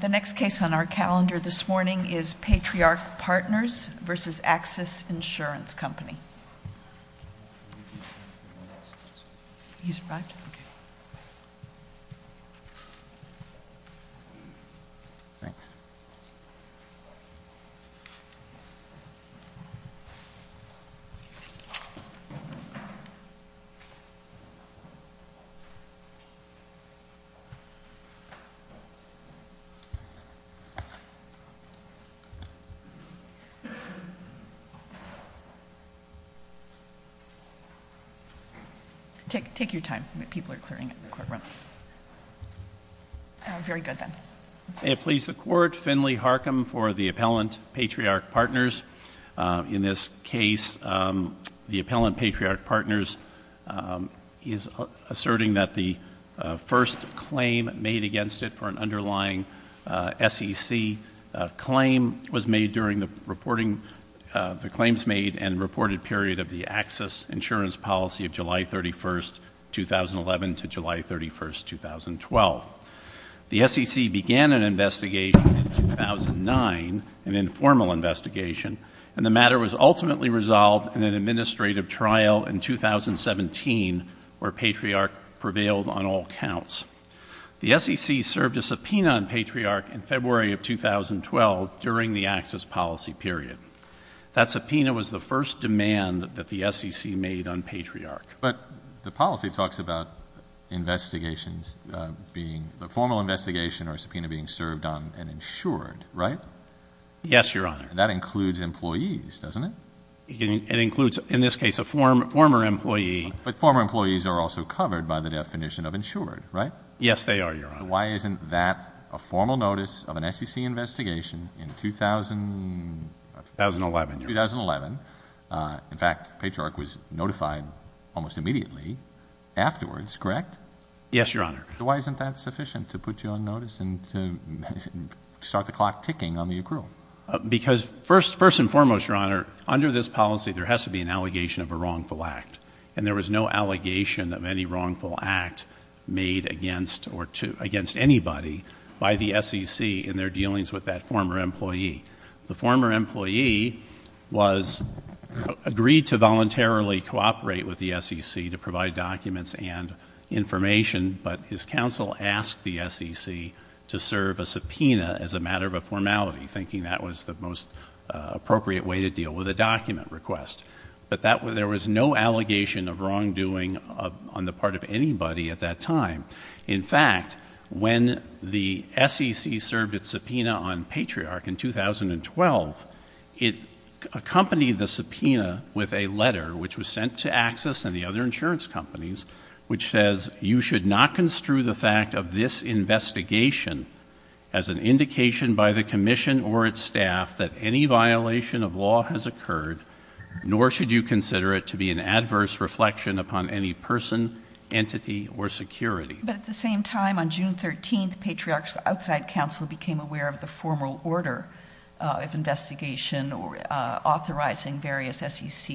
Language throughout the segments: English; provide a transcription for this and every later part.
The next case on our calendar this morning is Patriarch Partners v. Axis Insurance Company. He's right. Okay. Thanks. Take your time. People are clearing the court room. Very good, then. May it please the Court, Finley Harcum for the Appellant Patriarch Partners. In this case, the Appellant Patriarch Partners is asserting that the first claim made against it for an underlying SEC claim was made during the claims made and reported period of the Axis Insurance Policy of July 31, 2011 to July 31, 2012. The SEC began an investigation in 2009, an informal investigation, and the matter was ultimately resolved in an administrative trial in 2017 where Patriarch prevailed on all counts. The SEC served a subpoena on Patriarch in February of 2012 during the Axis policy period. That subpoena was the first demand that the SEC made on Patriarch. But the policy talks about investigations being, a formal investigation or subpoena being served on and insured, right? Yes, Your Honor. That includes employees, doesn't it? It includes, in this case, a former employee. But former employees are also covered by the definition of insured, right? Yes, they are, Your Honor. Why isn't that a formal notice of an SEC investigation in 2011? In fact, Patriarch was notified almost immediately afterwards, correct? Yes, Your Honor. Why isn't that sufficient to put you on notice and to start the clock ticking on the accrual? Because first and foremost, Your Honor, under this policy there has to be an allegation of a wrongful act. And there was no allegation of any wrongful act made against anybody by the SEC in their dealings with that former employee. The former employee was agreed to voluntarily cooperate with the SEC to provide documents and information, but his counsel asked the SEC to serve a subpoena as a matter of a formality, thinking that was the most appropriate way to deal with a document request. But there was no allegation of wrongdoing on the part of anybody at that time. In fact, when the SEC served its subpoena on Patriarch in 2012, it accompanied the subpoena with a letter, which was sent to Axis and the other insurance companies, which says you should not construe the fact of this investigation as an indication by the Commission or its occurred, nor should you consider it to be an adverse reflection upon any person, entity, or security. But at the same time, on June 13th, Patriarch's outside counsel became aware of the formal order of investigation authorizing various SEC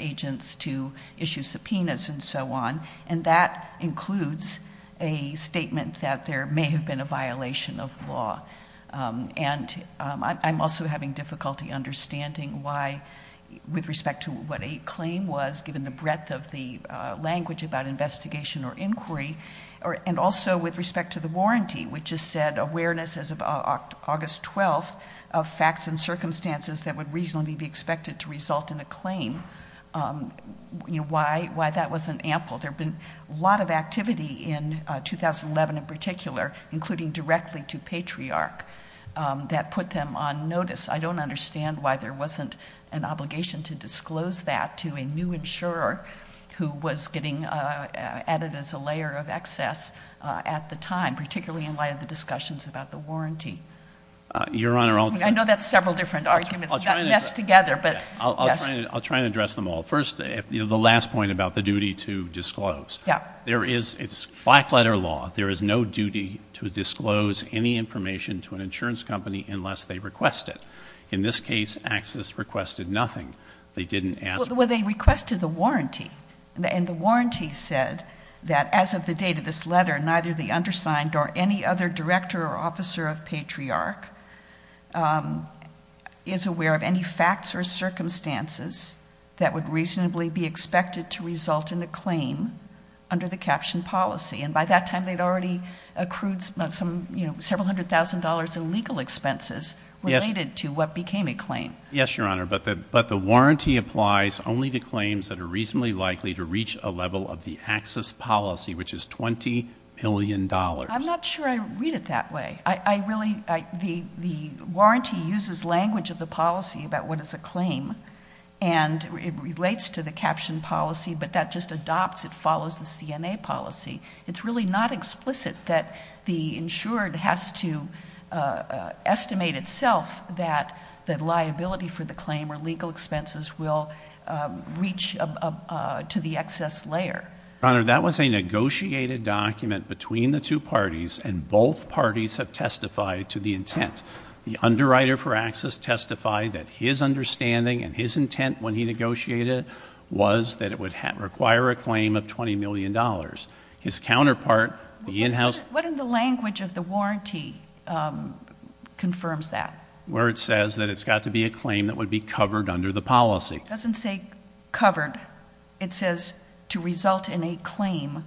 agents to issue subpoenas and so on. And that includes a statement that there may have been a violation of law. And I'm also having difficulty understanding why, with respect to what a claim was, given the breadth of the language about investigation or inquiry, and also with respect to the warranty, which has said awareness as of August 12th of facts and circumstances that would reasonably be expected to result in a claim, why that wasn't ample. There have been a lot of activity in 2011 in particular, including directly to Patriarch, that put them on notice. I don't understand why there wasn't an obligation to disclose that to a new insurer who was getting added as a layer of excess at the time, particularly in light of the discussions Your Honor, I'll try to address them all. I know that's several different arguments that mess together, but yes. I'll try and address them all. First, the last point about the duty to disclose. There is, it's black letter law, there is no duty to disclose any information to an insurance company unless they request it. In this case, Axis requested nothing. They didn't ask. Well, they requested the warranty, and the warranty said that as of the date of this letter, neither the undersigned or any other director or officer of Patriarch is aware of any facts or circumstances that would reasonably be expected to result in a claim under the caption policy, and by that time they'd already accrued several hundred thousand dollars in legal expenses related to what became a claim. Yes, Your Honor, but the warranty applies only to claims that are reasonably likely to reach a level of the Axis policy, which is $20 million. I'm not sure I read it that way. I really, the warranty uses language of the policy about what is a claim, and it relates to the caption policy, but that just adopts, it follows the CNA policy. It's really not explicit that the insured has to estimate itself that the liability for the claim or legal expenses will reach to the excess layer. Your Honor, that was a negotiated document between the two parties, and both parties have testified to the intent. The underwriter for Axis testified that his understanding and his intent when he negotiated was that it would require a claim of $20 million. His counterpart, the in-house— What in the language of the warranty confirms that? Where it says that it's got to be a claim that would be covered under the policy. It doesn't say covered. It says to result in a claim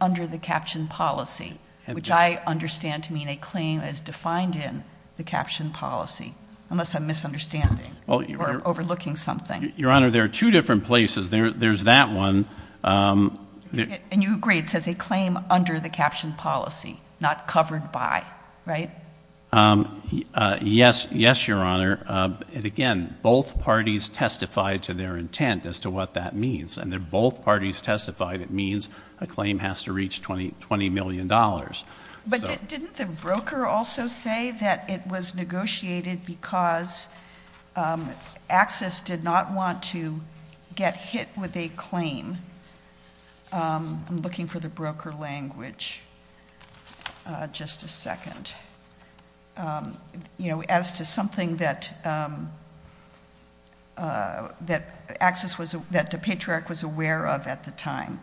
under the caption policy, which I understand to mean a claim as defined in the caption policy, unless I'm misunderstanding or overlooking something. Your Honor, there are two different places. There's that one— And you agree it says a claim under the caption policy, not covered by, right? Yes, Your Honor. Again, both parties testified to their intent as to what that means. And if both parties testified, it means a claim has to reach $20 million. But didn't the broker also say that it was negotiated because Axis did not want to get hit with a claim? I'm looking for the broker language. Just a second. You know, as to something that Axis was—that the Patriarch was aware of at the time.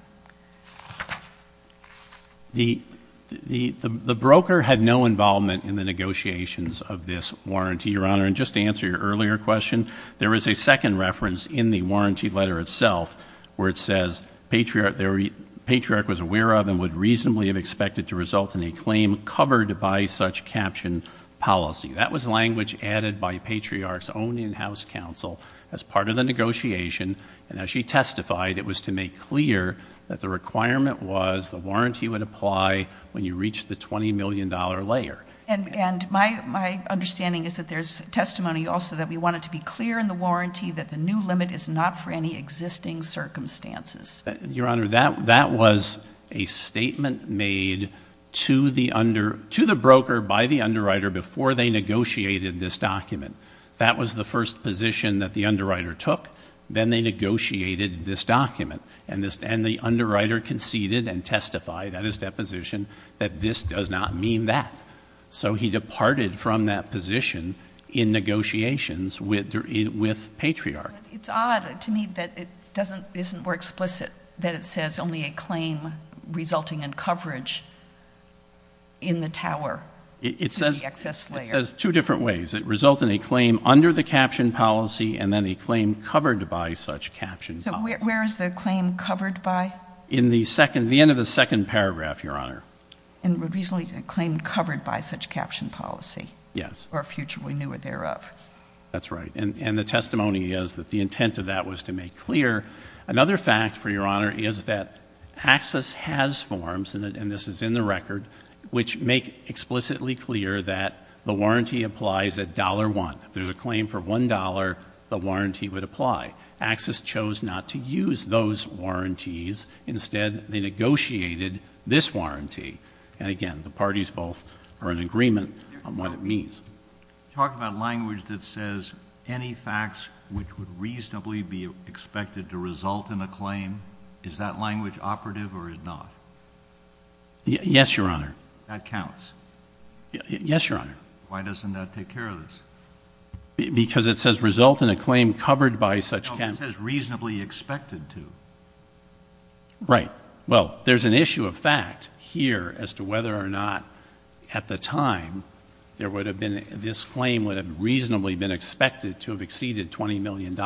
The broker had no involvement in the negotiations of this warranty, Your Honor. And just to answer your earlier question, there is a second reference in the warranty letter itself where it says, Patriarch was aware of and would reasonably have expected to result in a claim covered by such caption policy. That was language added by Patriarch's own in-house counsel as part of the negotiation. And as she testified, it was to make clear that the requirement was the warranty would apply when you reach the $20 million layer. And my understanding is that there's testimony also that we want it to be clear in the warranty that the new limit is not for any existing circumstances. Your Honor, that was a statement made to the broker by the underwriter before they negotiated this document. That was the first position that the underwriter took. Then they negotiated this document. And the underwriter conceded and testified at his deposition that this does not mean that. So he departed from that position in negotiations with Patriarch. It's odd to me that it isn't more explicit that it says only a claim resulting in coverage in the tower, in the excess layer. It says two different ways. It results in a claim under the caption policy and then a claim covered by such caption policy. Where is the claim covered by? In the end of the second paragraph, Your Honor. And reasonably a claim covered by such caption policy? Yes. Or a future we knew were thereof. That's right. And the testimony is that the intent of that was to make clear. Another fact, for Your Honor, is that Axis has forms, and this is in the record, which make explicitly clear that the warranty applies at $1.00. If there's a claim for $1.00, the warranty would apply. Axis chose not to use those warranties. Instead, they negotiated this warranty. And again, the parties both are in agreement on what it means. You talk about language that says, any facts which would reasonably be expected to result in a claim, is that language operative or is it not? Yes, Your Honor. That counts? Yes, Your Honor. Why doesn't that take care of this? Because it says result in a claim covered by such caption. No, it says reasonably expected to. Right. Well, there's an issue of fact here as to whether or not at the time there would have been, this claim would have reasonably been expected to have exceeded $20 million.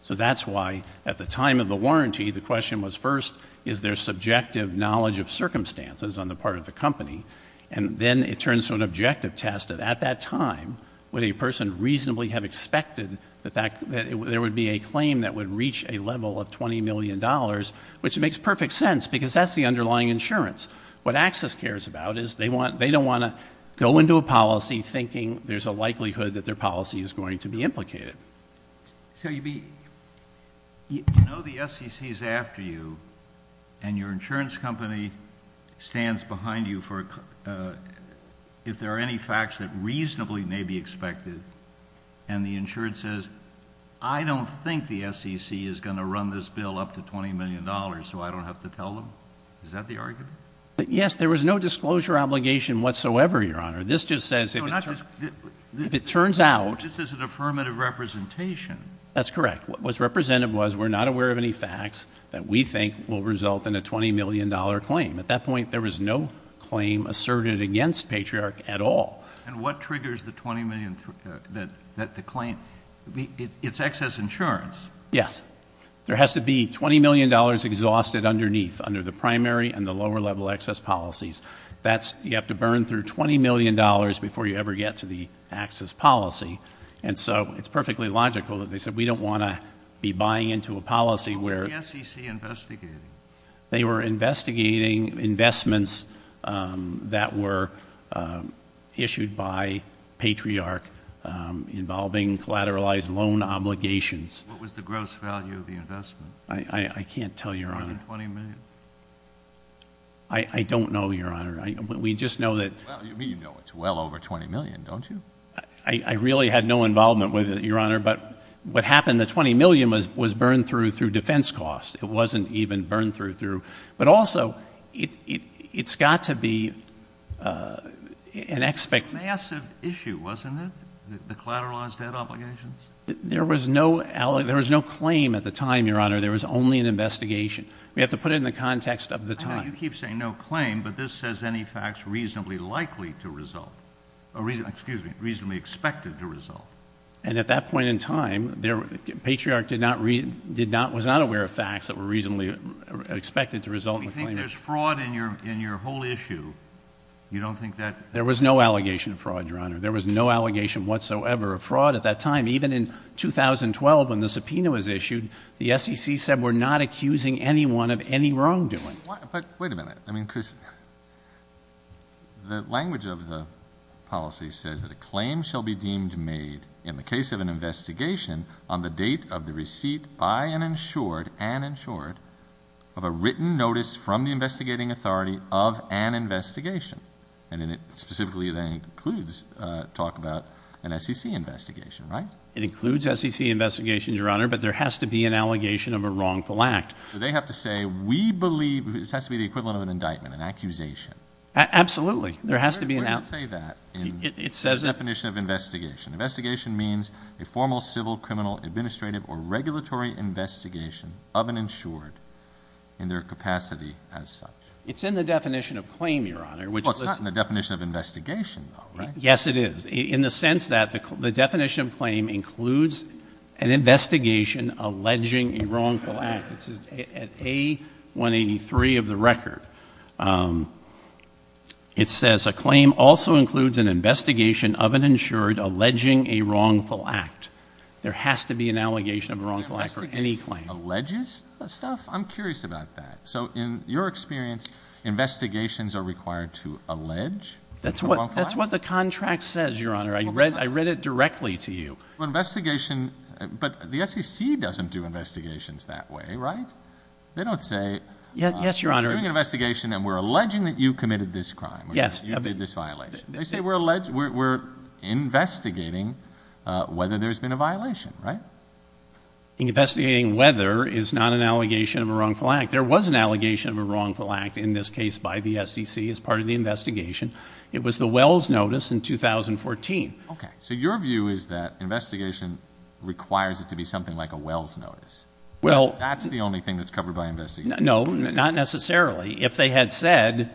So that's why at the time of the warranty, the question was first, is there subjective knowledge of circumstances on the part of the company? And then it turns to an objective test of at that time, would a person reasonably have expected that there would be a claim that would reach a level of $20 million, which makes perfect sense because that's the underlying insurance. What Access cares about is they don't want to go into a policy thinking there's a likelihood that their policy is going to be implicated. So you know the SEC is after you and your insurance company stands behind you for, if there are any facts that reasonably may be expected, and the insurance says, I don't think the SEC is going to run this bill up to $20 million, so I don't have to tell them. Is that the argument? Yes, there was no disclosure obligation whatsoever, Your Honor. This just says if it turns out. This is an affirmative representation. That's correct. What was represented was we're not aware of any facts that we think will result in a $20 million claim. At that point, there was no claim asserted against Patriarch at all. And what triggers the $20 million that the claim, it's Access Insurance. Yes. There has to be $20 million exhausted underneath, under the primary and the lower level access policies. That's, you have to burn through $20 million before you ever get to the Access policy. And so it's perfectly logical that they said we don't want to be buying into a policy where Was the SEC investigating? They were investigating investments that were issued by Patriarch involving collateralized loan obligations. What was the gross value of the investment? I can't tell you, Your Honor. $20 million? I don't know, Your Honor. We just know that. Well, you know it's well over $20 million, don't you? I really had no involvement with it, Your Honor. But what happened, the $20 million was burned through, through defense costs. It wasn't even burned through. But also, it's got to be an expect. It was a massive issue, wasn't it? The collateralized debt obligations? There was no, there was no claim at the time, Your Honor. There was only an investigation. We have to put it in the context of the time. I know you keep saying no claim, but this says any facts reasonably likely to result, excuse me, reasonably expected to result. And at that point in time, Patriarch did not, was not aware of facts that were reasonably expected to result. We think there's fraud in your whole issue. You don't think that? There was no allegation of fraud, Your Honor. There was no allegation whatsoever of fraud at that time. Even in 2012, when the subpoena was issued, the SEC said we're not accusing anyone of any wrongdoing. But, wait a minute. I mean, Chris, the language of the policy says that a claim shall be deemed made in the case of an investigation on the date of the receipt by an insured, an insured, of a written notice from the investigating authority of an investigation. And then it specifically then includes talk about an SEC investigation, right? It includes SEC investigations, Your Honor, but there has to be an allegation of a wrongful act. So they have to say, we believe, this has to be the equivalent of an indictment, an accusation. Absolutely. There has to be an... Where does it say that in the definition of investigation? Investigation means a formal, civil, criminal, administrative, or regulatory investigation of an insured in their capacity as such. It's in the definition of claim, Your Honor, which... Well, it's not in the definition of investigation, though, right? Yes, it is. In the sense that the definition of claim includes an investigation alleging a wrongful act. It's at A183 of the record. It says a claim also includes an investigation of an insured alleging a wrongful act. There has to be an allegation of a wrongful act for any claim. Alleges stuff? I'm curious about that. So in your experience, investigations are required to allege a wrongful act? That's what the contract says, Your Honor. I read it directly to you. Investigation... But the SEC doesn't do investigations that way, right? They don't say... Yes, Your Honor. We're doing an investigation and we're alleging that you committed this crime, or you did this violation. They say we're investigating whether there's been a violation, right? Investigating whether is not an allegation of a wrongful act. There was an allegation of a wrongful act in this case by the SEC as part of the investigation. It was the Wells Notice in 2014. Okay. So your view is that investigation requires it to be something like a Wells Notice. Well... That's the only thing that's covered by investigation. No, not necessarily. If they had said,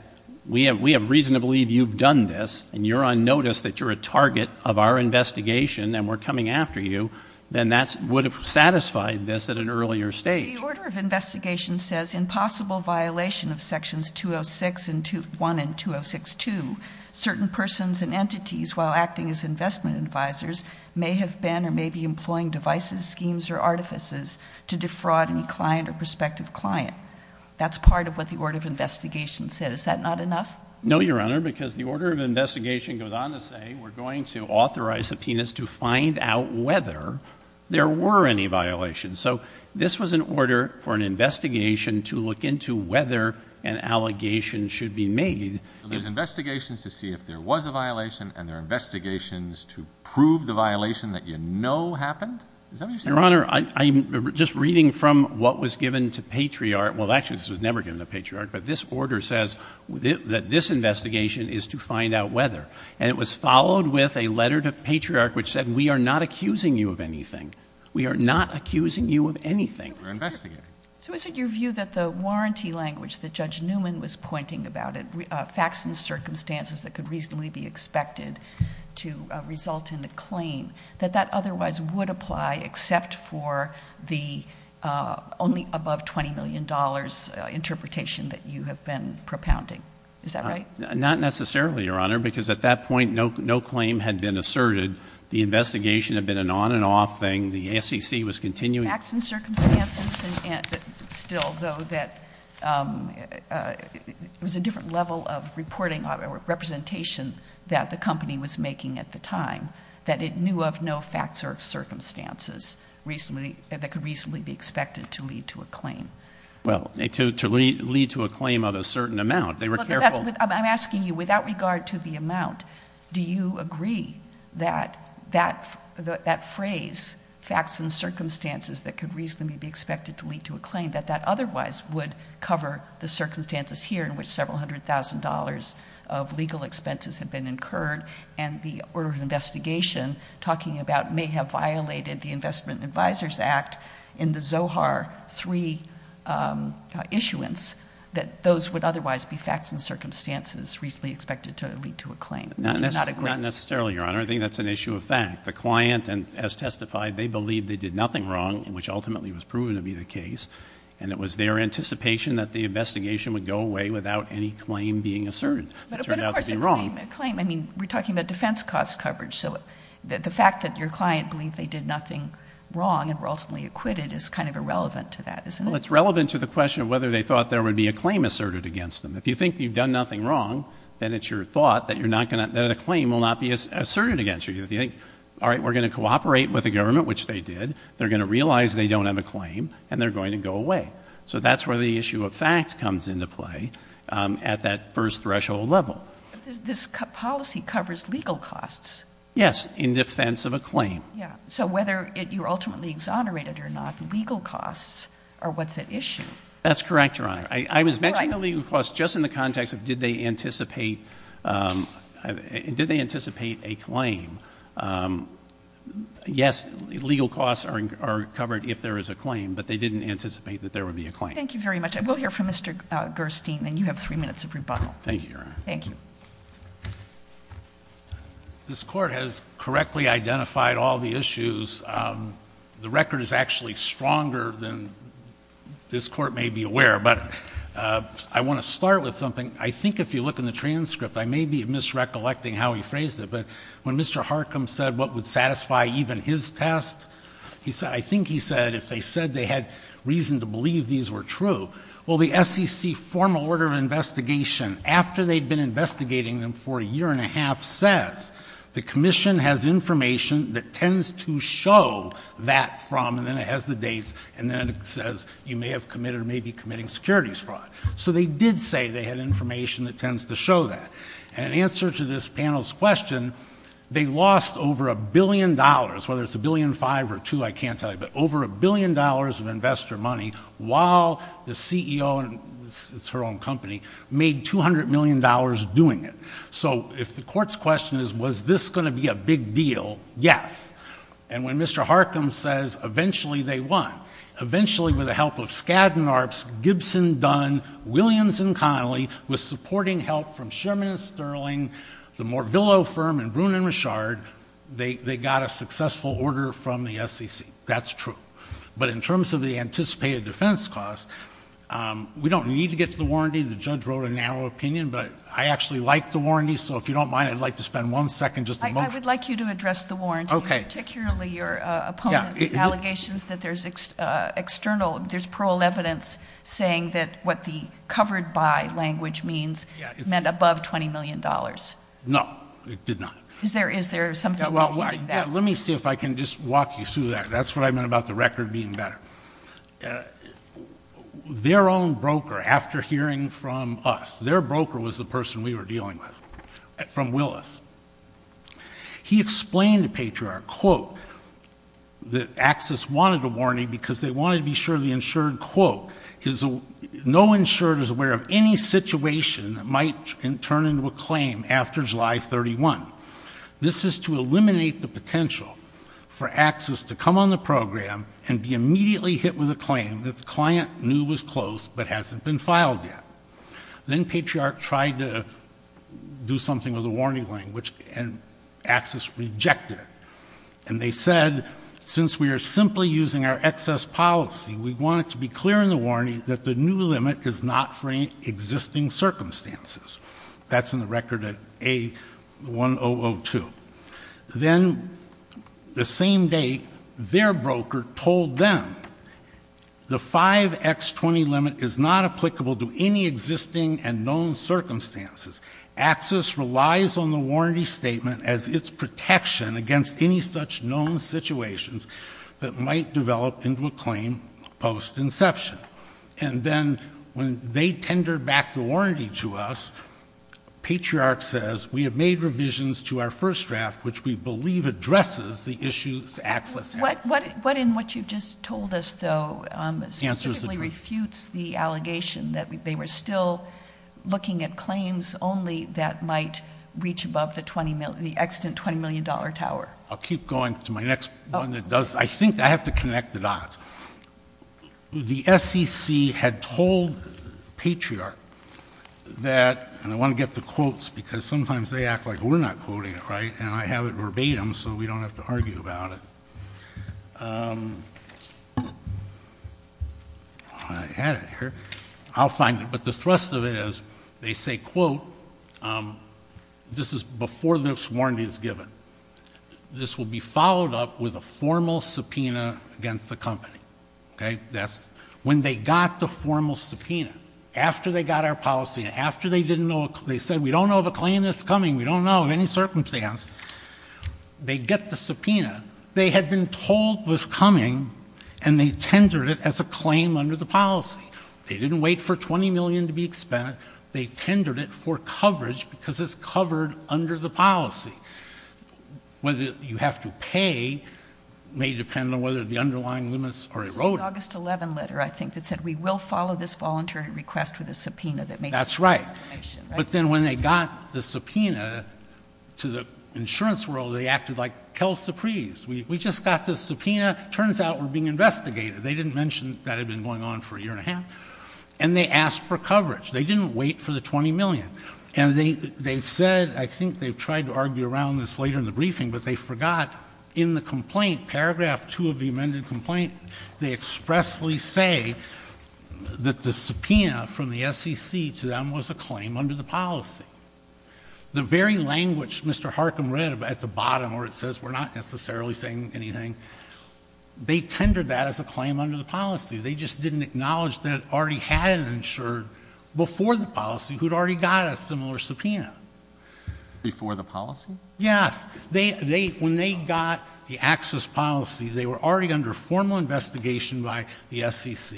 we have reason to believe you've done this and you're on notice that you're a target of our investigation and we're coming after you, then that would have satisfied this at an earlier stage. But the order of investigation says, impossible violation of sections 206.1 and 206.2. Certain persons and entities, while acting as investment advisors, may have been or may be employing devices, schemes, or artifices to defraud any client or prospective client. That's part of what the order of investigation said. Is that not enough? No, Your Honor, because the order of investigation goes on to say, we're going to authorize subpoenas to find out whether there were any violations. So this was an order for an investigation to look into whether an allegation should be made. So there's investigations to see if there was a violation and there are investigations to prove the violation that you know happened? Is that what you're saying? Your Honor, I'm just reading from what was given to Patriarch. Well, actually, this was never given to Patriarch, but this order says that this investigation is to find out whether. And it was followed with a letter to Patriarch which said, we are not accusing you of anything. We are not accusing you of anything. We're investigating. So is it your view that the warranty language that Judge Newman was pointing about, facts and circumstances that could reasonably be expected to result in a claim, that that otherwise would apply except for the only above $20 million interpretation that you have been propounding? Is that right? Not necessarily, Your Honor, because at that point, no claim had been asserted. The investigation had been an on and off thing. The SEC was continuing. Facts and circumstances, and still, though, that it was a different level of reporting or representation that the company was making at the time, that it knew of no facts or circumstances that could reasonably be expected to lead to a claim. Well, to lead to a claim of a certain amount. They were careful. I'm asking you, without regard to the amount, do you agree that that phrase, facts and circumstances that could reasonably be expected to lead to a claim, that that otherwise would cover the circumstances here in which several hundred thousand dollars of legal expenses had been incurred and the order of investigation talking about may have violated the Investment Advisors Act in the Zohar III issuance, that those would otherwise be facts and circumstances reasonably expected to lead to a claim? Do you not agree? Not necessarily, Your Honor. I think that's an issue of fact. The client, as testified, they believed they did nothing wrong, which ultimately was proven to be the case, and it was their anticipation that the investigation would go away without any claim being asserted. It turned out to be wrong. But, of course, a claim. I mean, we're talking about defense cost coverage. So the fact that your client believed they did nothing wrong and were ultimately acquitted is kind of irrelevant to that, isn't it? Well, it's relevant to the question of whether they thought there would be a claim asserted against them. If you think you've done nothing wrong, then it's your thought that a claim will not be asserted against you. If you think, all right, we're going to cooperate with the government, which they did, they're going to realize they don't have a claim, and they're going to go away. So that's where the issue of fact comes into play at that first threshold level. This policy covers legal costs. Yes, in defense of a claim. So whether you're ultimately exonerated or not, legal costs are what's at issue. That's correct, Your Honor. I was mentioning the legal costs just in the context of did they anticipate a claim. Yes, legal costs are covered if there is a claim, but they didn't anticipate that there would be a claim. Thank you very much. I will hear from Mr. Gerstein, and you have three minutes of rebuttal. Thank you, Your Honor. Thank you. This Court has correctly identified all the issues. The record is actually stronger than this Court may be aware of, but I want to start with something. I think if you look in the transcript, I may be misrecollecting how he phrased it, but when Mr. Harcum said what would satisfy even his test, I think he said if they said they had reason to believe these were true, well, the SEC formal order of investigation after they'd been investigating them for a year and a half says the Commission has information that tends to show that from, and then it has the dates, and then it says you may have committed or may be committing securities fraud. So they did say they had information that tends to show that, and in answer to this panel's question, they lost over a billion dollars, whether it's a billion five or two, I can't tell you, but over a billion dollars of investor money while the CEO, it's her own company, made $200 million doing it. So if the Court's question is was this going to be a big deal, yes. And when Mr. Harcum says eventually they won, eventually with the help of Skadden Arps, Gibson, Dunn, Williams, and Connolly, with supporting help from Sherman and Sterling, the Mortville firm, and Bruin and Richard, they got a successful order from the SEC. That's true. But in terms of the anticipated defense cost, we don't need to get to the warranty. The judge wrote a narrow opinion, but I actually like the warranty. So if you don't mind, I'd like to spend one second, just a moment. I would like you to address the warranty, particularly your opponent's allegations that there's external, there's parole evidence saying that what the covered by language means meant above $20 million. No, it did not. Is there something? Well, let me see if I can just walk you through that. That's what I meant about the record being better. Their own broker, after hearing from us, their broker was the person we were dealing with from Willis. He explained to Patriot, quote, that Axis wanted a warning because they wanted to be sure that it might turn into a claim after July 31. This is to eliminate the potential for Axis to come on the program and be immediately hit with a claim that the client knew was closed but hasn't been filed yet. Then Patriot tried to do something with the warning language and Axis rejected it. And they said, since we are simply using our excess policy, we want it to be clear in the circumstances. That's in the record at A1002. Then the same day, their broker told them, the 5X20 limit is not applicable to any existing and known circumstances. Axis relies on the warranty statement as its protection against any such known situations that might develop into a claim post-inception. And then when they tendered back the warranty to us, Patriot says, we have made revisions to our first draft, which we believe addresses the issues Axis has. What in what you just told us, though, specifically refutes the allegation that they were still looking at claims only that might reach above the 20 million, the extant $20 million tower? I'll keep going to my next one that does. I think I have to connect the dots. The SEC had told Patriot that, and I want to get the quotes, because sometimes they act like we're not quoting it, right, and I have it verbatim, so we don't have to argue about it. I had it here. I'll find it. But the thrust of it is, they say, quote, this is before this warranty is given. This will be followed up with a formal subpoena against the company. That's when they got the formal subpoena. After they got our policy and after they said, we don't know of a claim that's coming, we don't know of any circumstance, they get the subpoena. They had been told it was coming, and they tendered it as a claim under the policy. They didn't wait for 20 million to be expended. They tendered it for coverage because it's covered under the policy. Whether you have to pay may depend on whether the underlying limits are eroded. It was the August 11 letter, I think, that said, we will follow this voluntary request with a subpoena that may support the information. That's right. But then when they got the subpoena to the insurance world, they acted like, quelle surprise, we just got the subpoena. Turns out we're being investigated. They didn't mention that had been going on for a year and a half. And they asked for coverage. They didn't wait for the 20 million. And they've said, I think they've tried to argue around this later in the briefing, but they forgot in the complaint, paragraph two of the amended complaint, they expressly say that the subpoena from the SEC to them was a claim under the policy. The very language Mr. Harcum read at the bottom where it says we're not necessarily saying anything, they tendered that as a claim under the policy. They just didn't acknowledge that it already had an insurer before the policy who'd already got a similar subpoena. Before the policy? Yes. They, they, when they got the access policy, they were already under formal investigation by the SEC.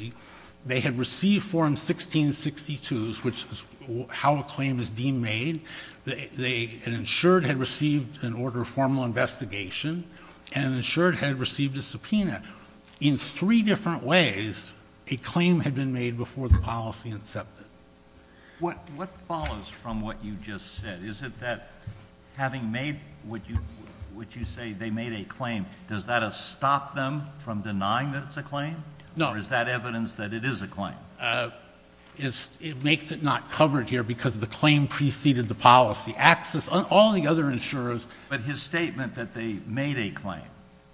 They had received form 1662s, which is how a claim is deemed made. They, an insured had received an order of formal investigation and insured had received a subpoena in three different ways. A claim had been made before the policy incepted. What, what follows from what you just said? Is it that having made what you, what you say they made a claim, does that stop them from denying that it's a claim? No. Or is that evidence that it is a claim? It's, it makes it not covered here because the claim preceded the policy. Access, all the other insurers. But his statement that they made a claim.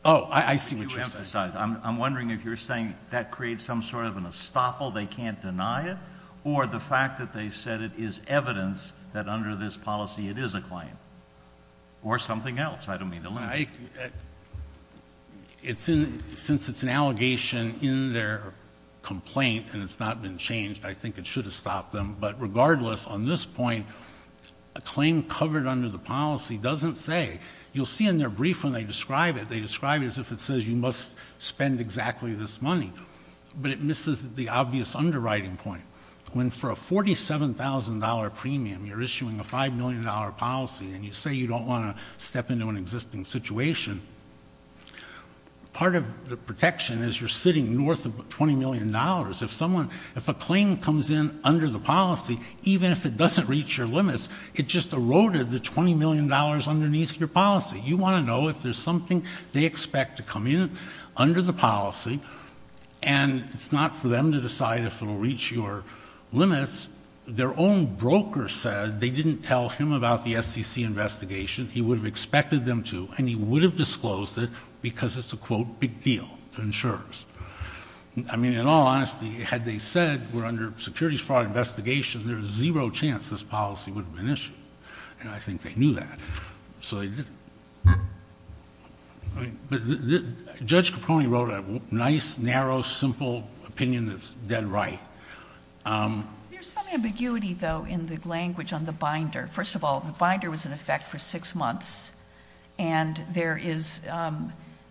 Oh, I see what you're saying. I'm, I'm wondering if you're saying that creates some sort of an estoppel, they can't deny it or the fact that they said it is evidence that under this policy, it is a claim or something else. I don't mean to lie. I, it's in, since it's an allegation in their complaint and it's not been changed, I think it should have stopped them. But regardless on this point, a claim covered under the policy doesn't say, you'll see in their brief when they describe it, they describe it as if it says you must spend exactly this money. But it misses the obvious underwriting point. When for a $47,000 premium, you're issuing a $5 million policy and you say you don't want to step into an existing situation. Part of the protection is you're sitting north of $20 million. If someone, if a claim comes in under the policy, even if it doesn't reach your limits, it just eroded the $20 million underneath your policy. You want to know if there's something they expect to come in under the policy and it's not for them to decide if it'll reach your limits. Their own broker said they didn't tell him about the SEC investigation. He would have expected them to and he would have disclosed it because it's a quote, big deal to insurers. I mean, in all honesty, had they said we're under securities fraud investigation, there is zero chance this policy would have been issued. And I think they knew that. So, Judge Capone wrote a nice, narrow, simple opinion that's dead right. There's some ambiguity though in the language on the binder. First of all, the binder was in effect for six months and there is,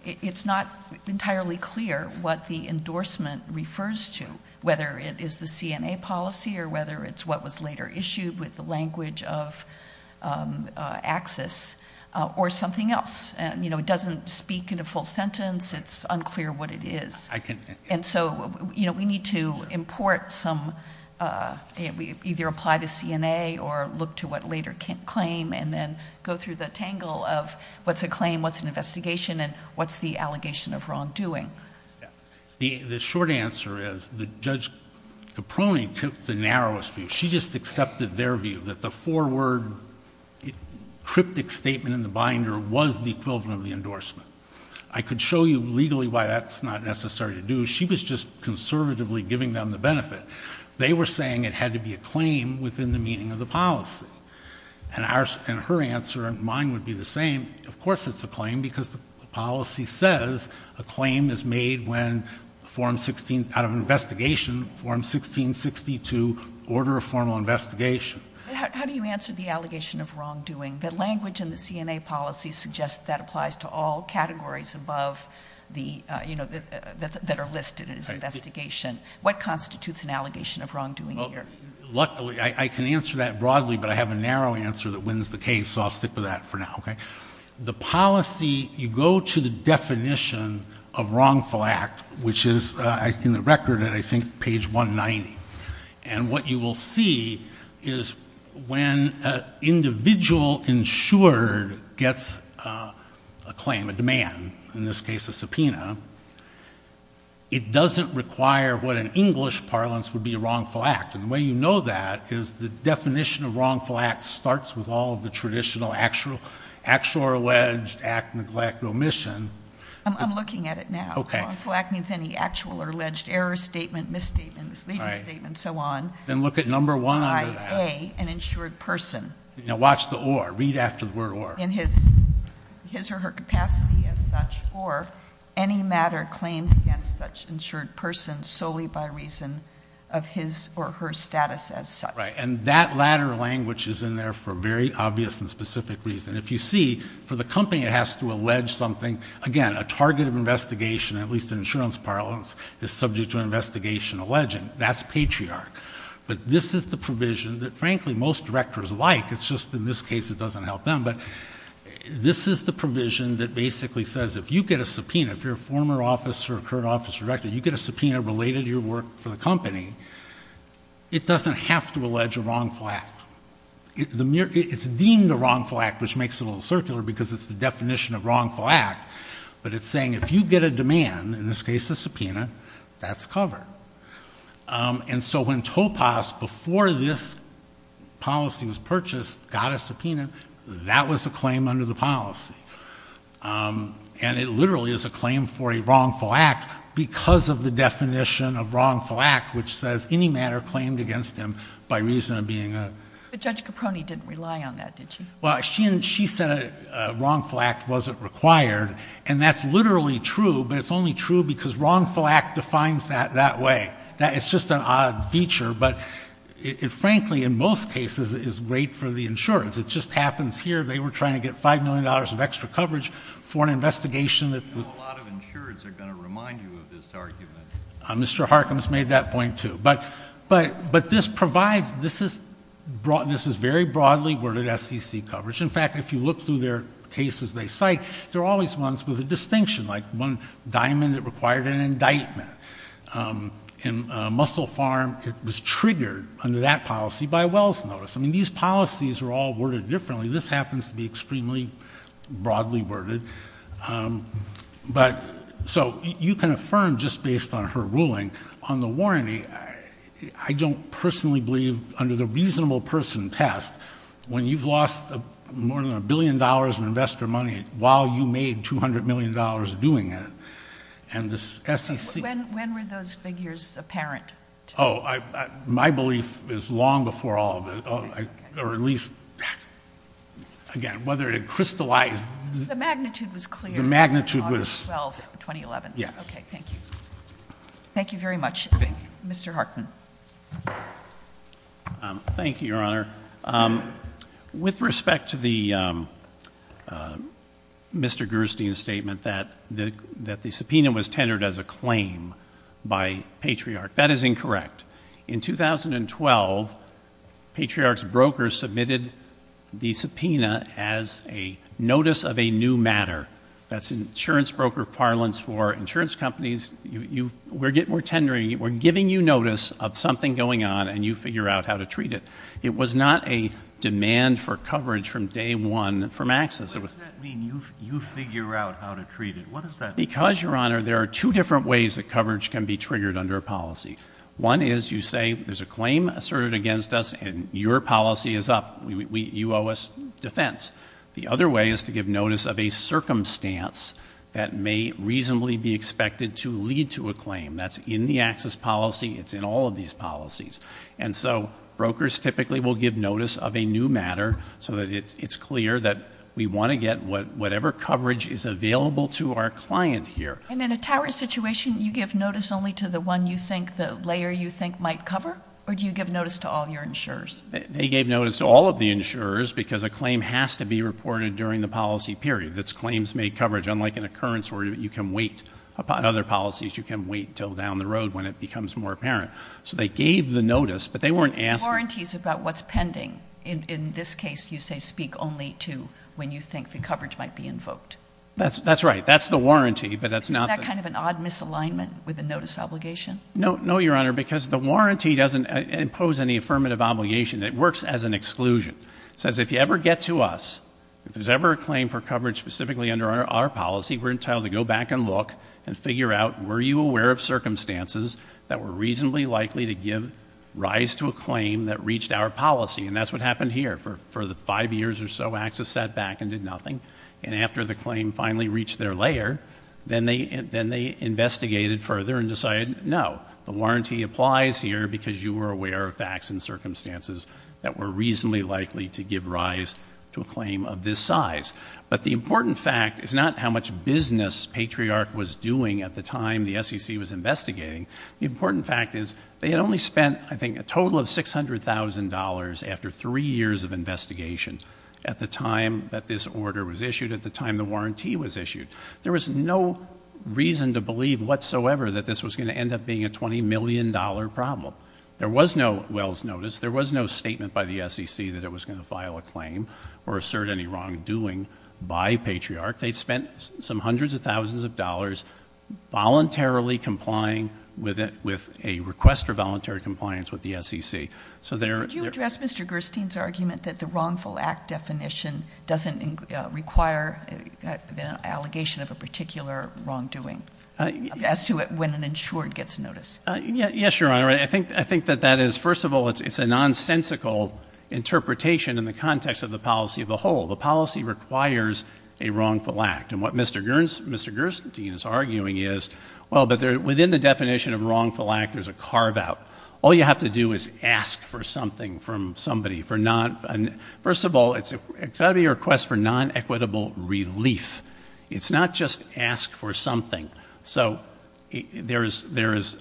it's not entirely clear what the endorsement refers to, whether it is the CNA policy or whether it's what was later issued with the language of Axis or something else. It doesn't speak in a full sentence. It's unclear what it is. And so, we need to import some, either apply the CNA or look to what later claim and then go through the tangle of what's a claim, what's an investigation and what's the allegation of wrongdoing. The short answer is that Judge Capone took the narrowest view. She just accepted their view that the four-word cryptic statement in the binder was the equivalent of the endorsement. I could show you legally why that's not necessary to do. She was just conservatively giving them the benefit. They were saying it had to be a claim within the meaning of the policy. And our, and her answer, mine would be the same. Of course, it's a claim because the policy says a claim is made when form 16, out of investigation. But how do you answer the allegation of wrongdoing? The language in the CNA policy suggests that applies to all categories above the, you know, that are listed in this investigation. What constitutes an allegation of wrongdoing here? Luckily, I can answer that broadly, but I have a narrow answer that wins the case. So, I'll stick with that for now, okay? The policy, you go to the definition of wrongful act, which is in the record and I think page 190. And what you will see is when an individual insured gets a claim, a demand, in this case a subpoena, it doesn't require what in English parlance would be a wrongful act. And the way you know that is the definition of wrongful act starts with all of the traditional actual or alleged act, neglect, omission. I'm looking at it now. Okay. Wrongful act means any actual or alleged error statement, misstatement, misleading statement, so on. Then look at number one under that. By an insured person. Now, watch the or. Read after the word or. In his or her capacity as such or any matter claimed against such insured person solely by reason of his or her status as such. Right. And that latter language is in there for very obvious and specific reason. If you see, for the company it has to allege something, again, a target of investigation, at least in insurance parlance, is subject to investigation alleging. That's patriarch. But this is the provision that frankly most directors like. It's just in this case it doesn't help them. But this is the provision that basically says if you get a subpoena, if you're a former officer or current office director, you get a subpoena related to your work for the company, it doesn't have to allege a wrongful act. It's deemed a wrongful act, which makes it a little circular because it's the definition of wrongful act. But it's saying if you get a demand, in this case a subpoena, that's covered. And so when Topas, before this policy was purchased, got a subpoena, that was a claim under the policy. And it literally is a claim for a wrongful act because of the definition of wrongful act, which says any matter claimed against him by reason of being a. But Judge Caproni didn't rely on that, did she? Well, she said a wrongful act wasn't required. And that's literally true. But it's only true because wrongful act defines that that way. It's just an odd feature. But it frankly in most cases is great for the insurance. It just happens here they were trying to get $5 million of extra coverage for an investigation. I know a lot of insurance are going to remind you of this argument. Mr. Harkins made that point too. But this is very broadly worded SEC coverage. In fact, if you look through their cases they cite, they're always ones with a distinction. Like one diamond, it required an indictment. In Muscle Farm, it was triggered under that policy by Wells Notice. I mean, these policies are all worded differently. This happens to be extremely broadly worded. But, so you can affirm just based on her ruling on the warranty. I don't personally believe under the reasonable person test, when you've lost more than a billion dollars in investor money while you made $200 million doing it. And this SEC- When were those figures apparent? My belief is long before all of it, or at least, again, whether it crystallized. The magnitude was clear. The magnitude was- August 12, 2011. Yes. Okay, thank you. Thank you very much, Mr. Harkin. Thank you, Your Honor. With respect to the Mr. Gerstein's statement that the subpoena was tendered as a claim by Patriarch. That is incorrect. In 2012, Patriarch's broker submitted the subpoena as a notice of a new matter. That's insurance broker parlance for insurance companies. We're tendering it. We're giving you notice of something going on, and you figure out how to treat it. It was not a demand for coverage from day one from Axis. What does that mean, you figure out how to treat it? What does that mean? Because, Your Honor, there are two different ways that coverage can be triggered under a policy. One is you say there's a claim asserted against us, and your policy is up. You owe us defense. The other way is to give notice of a circumstance that may reasonably be expected to lead to a claim. That's in the Axis policy. It's in all of these policies. And so brokers typically will give notice of a new matter so that it's clear that we want to get whatever coverage is available to our client here. And in a tariff situation, you give notice only to the one you think the layer you think might cover? Or do you give notice to all your insurers? They gave notice to all of the insurers because a claim has to be reported during the policy period. That's claims made coverage. Unlike an occurrence where you can wait upon other policies, you can wait until down the road when it becomes more apparent. So they gave the notice, but they weren't asking- Warranties about what's pending. In this case, you say speak only to when you think the coverage might be invoked. That's right. That's the warranty, but that's not- Isn't that kind of an odd misalignment with the notice obligation? No, Your Honor, because the warranty doesn't impose any affirmative obligation. It works as an exclusion. It says if you ever get to us, if there's ever a claim for coverage specifically under our policy, we're entitled to go back and look and figure out were you aware of circumstances that were reasonably likely to give rise to a claim that reached our policy. And that's what happened here. For the five years or so, Axis sat back and did nothing. And after the claim finally reached their layer, then they investigated further and decided, no, the warranty applies here because you were aware of facts and circumstances that were reasonably likely to give rise to a claim of this size. But the important fact is not how much business Patriarch was doing at the time the SEC was investigating. The important fact is they had only spent, I think, a total of $600,000 after three years of investigation at the time that this order was issued, at the time the warranty was issued. There was no reason to believe whatsoever that this was going to end up being a $20 million problem. There was no Wells Notice. There was no statement by the SEC that it was going to file a claim or assert any wrongdoing by Patriarch. They'd spent some hundreds of thousands of dollars voluntarily complying with it, with a request for voluntary compliance with the SEC. Could you address Mr. Gerstein's argument that the wrongful act definition doesn't require the allegation of a particular wrongdoing as to when an insured gets notice? Yes, Your Honor. I think that that is, first of all, it's a nonsensical interpretation in the context of the policy of the whole. The policy requires a wrongful act. And what Mr. Gerstein is arguing is, well, but within the definition of wrongful act, there's a carve out. All you have to do is ask for something from somebody. First of all, it's got to be a request for non-equitable relief. It's not just ask for something. So there is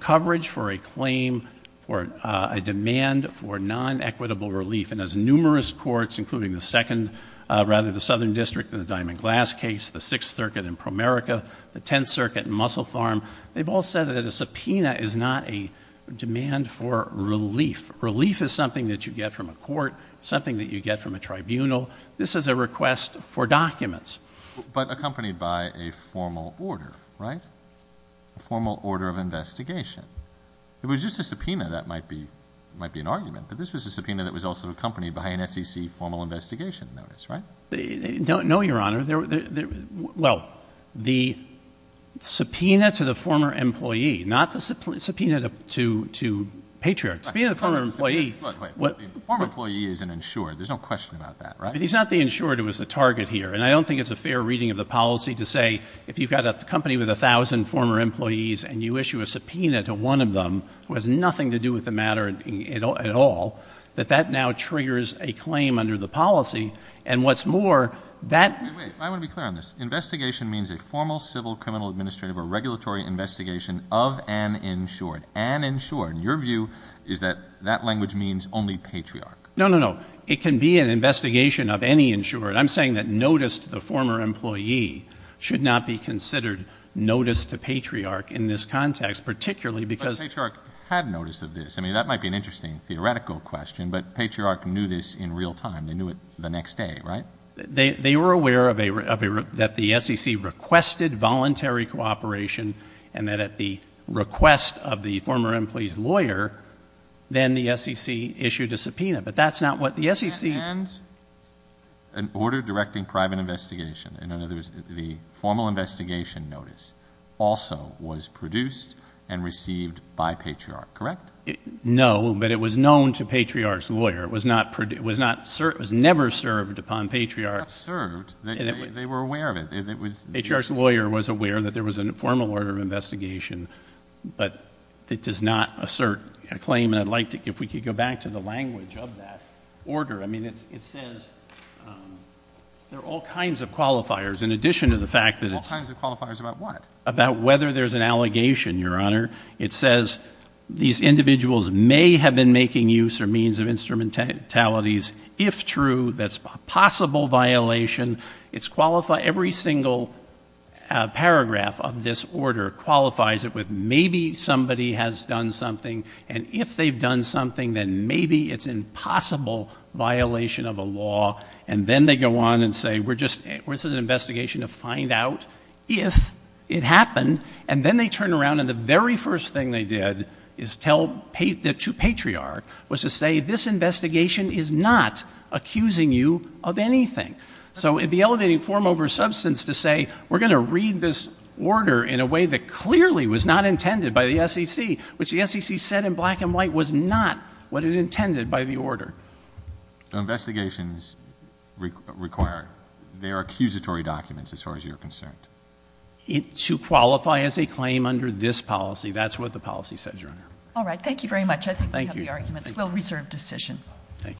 coverage for a claim, for a demand for non-equitable relief. And as numerous courts, including the second, rather the Southern District in the Diamond Glass case, the Sixth Circuit in Promerica, the Tenth Circuit in Mussel Farm, they've all said that a subpoena is not a demand for relief. Relief is something that you get from a court, something that you get from a tribunal. This is a request for documents. But accompanied by a formal order, right? A formal order of investigation. If it was just a subpoena, that might be an argument. But this was a subpoena that was also accompanied by an SEC formal investigation notice, right? No, Your Honor. Well, the subpoena to the former employee, not the subpoena to Patriarch. Subpoena to the former employee. Wait, wait. Former employee is an insured. There's no question about that, right? But he's not the insured who was the target here. And I don't think it's a fair reading of the policy to say, if you've got a company with 1,000 former employees and you issue a subpoena to one of them who has nothing to do with the matter at all, that that now triggers a claim under the policy. And what's more, that— Wait, I want to be clear on this. Investigation means a formal, civil, criminal, administrative, or regulatory investigation of an insured. An insured. And your view is that that language means only Patriarch. No, no, no. It can be an investigation of any insured. I'm saying that notice to the former employee should not be considered notice to Patriarch in this context, particularly because— But Patriarch had notice of this. I mean, that might be an interesting theoretical question. But Patriarch knew this in real time. They knew it the next day, right? They were aware that the SEC requested voluntary cooperation and that at the request of the former employee's lawyer, then the SEC issued a subpoena. But that's not what the SEC— And an order directing private investigation. In other words, the formal investigation notice also was produced and received by Patriarch, correct? No, but it was known to Patriarch's lawyer. It was never served upon Patriarch. Not served. They were aware of it. Patriarch's lawyer was aware that there was a formal order of investigation, but it does not assert a claim. And I'd like to—if we could go back to the language of that order. I mean, it says there are all kinds of qualifiers in addition to the fact that it's— All kinds of qualifiers about what? About whether there's an allegation, Your Honor. It says these individuals may have been making use or means of instrumentalities. If true, that's a possible violation. It's qualified—every single paragraph of this order qualifies it with maybe somebody has done something and if they've done something, then maybe it's a possible violation of a law. And then they go on and say, we're just—this is an investigation to find out if it happened. And then they turn around and the very first thing they did is tell—to Patriarch was to say this investigation is not accusing you of anything. So it'd be elevating form over substance to say, we're going to read this order in a way that clearly was not intended by the SEC, which the SEC said in black and white was not what it intended by the order. So investigations require—they are accusatory documents as far as you're concerned? It—to qualify as a claim under this policy. That's what the policy says, Your Honor. All right. Thank you very much. I think we have the arguments. We'll reserve decision. Thank you.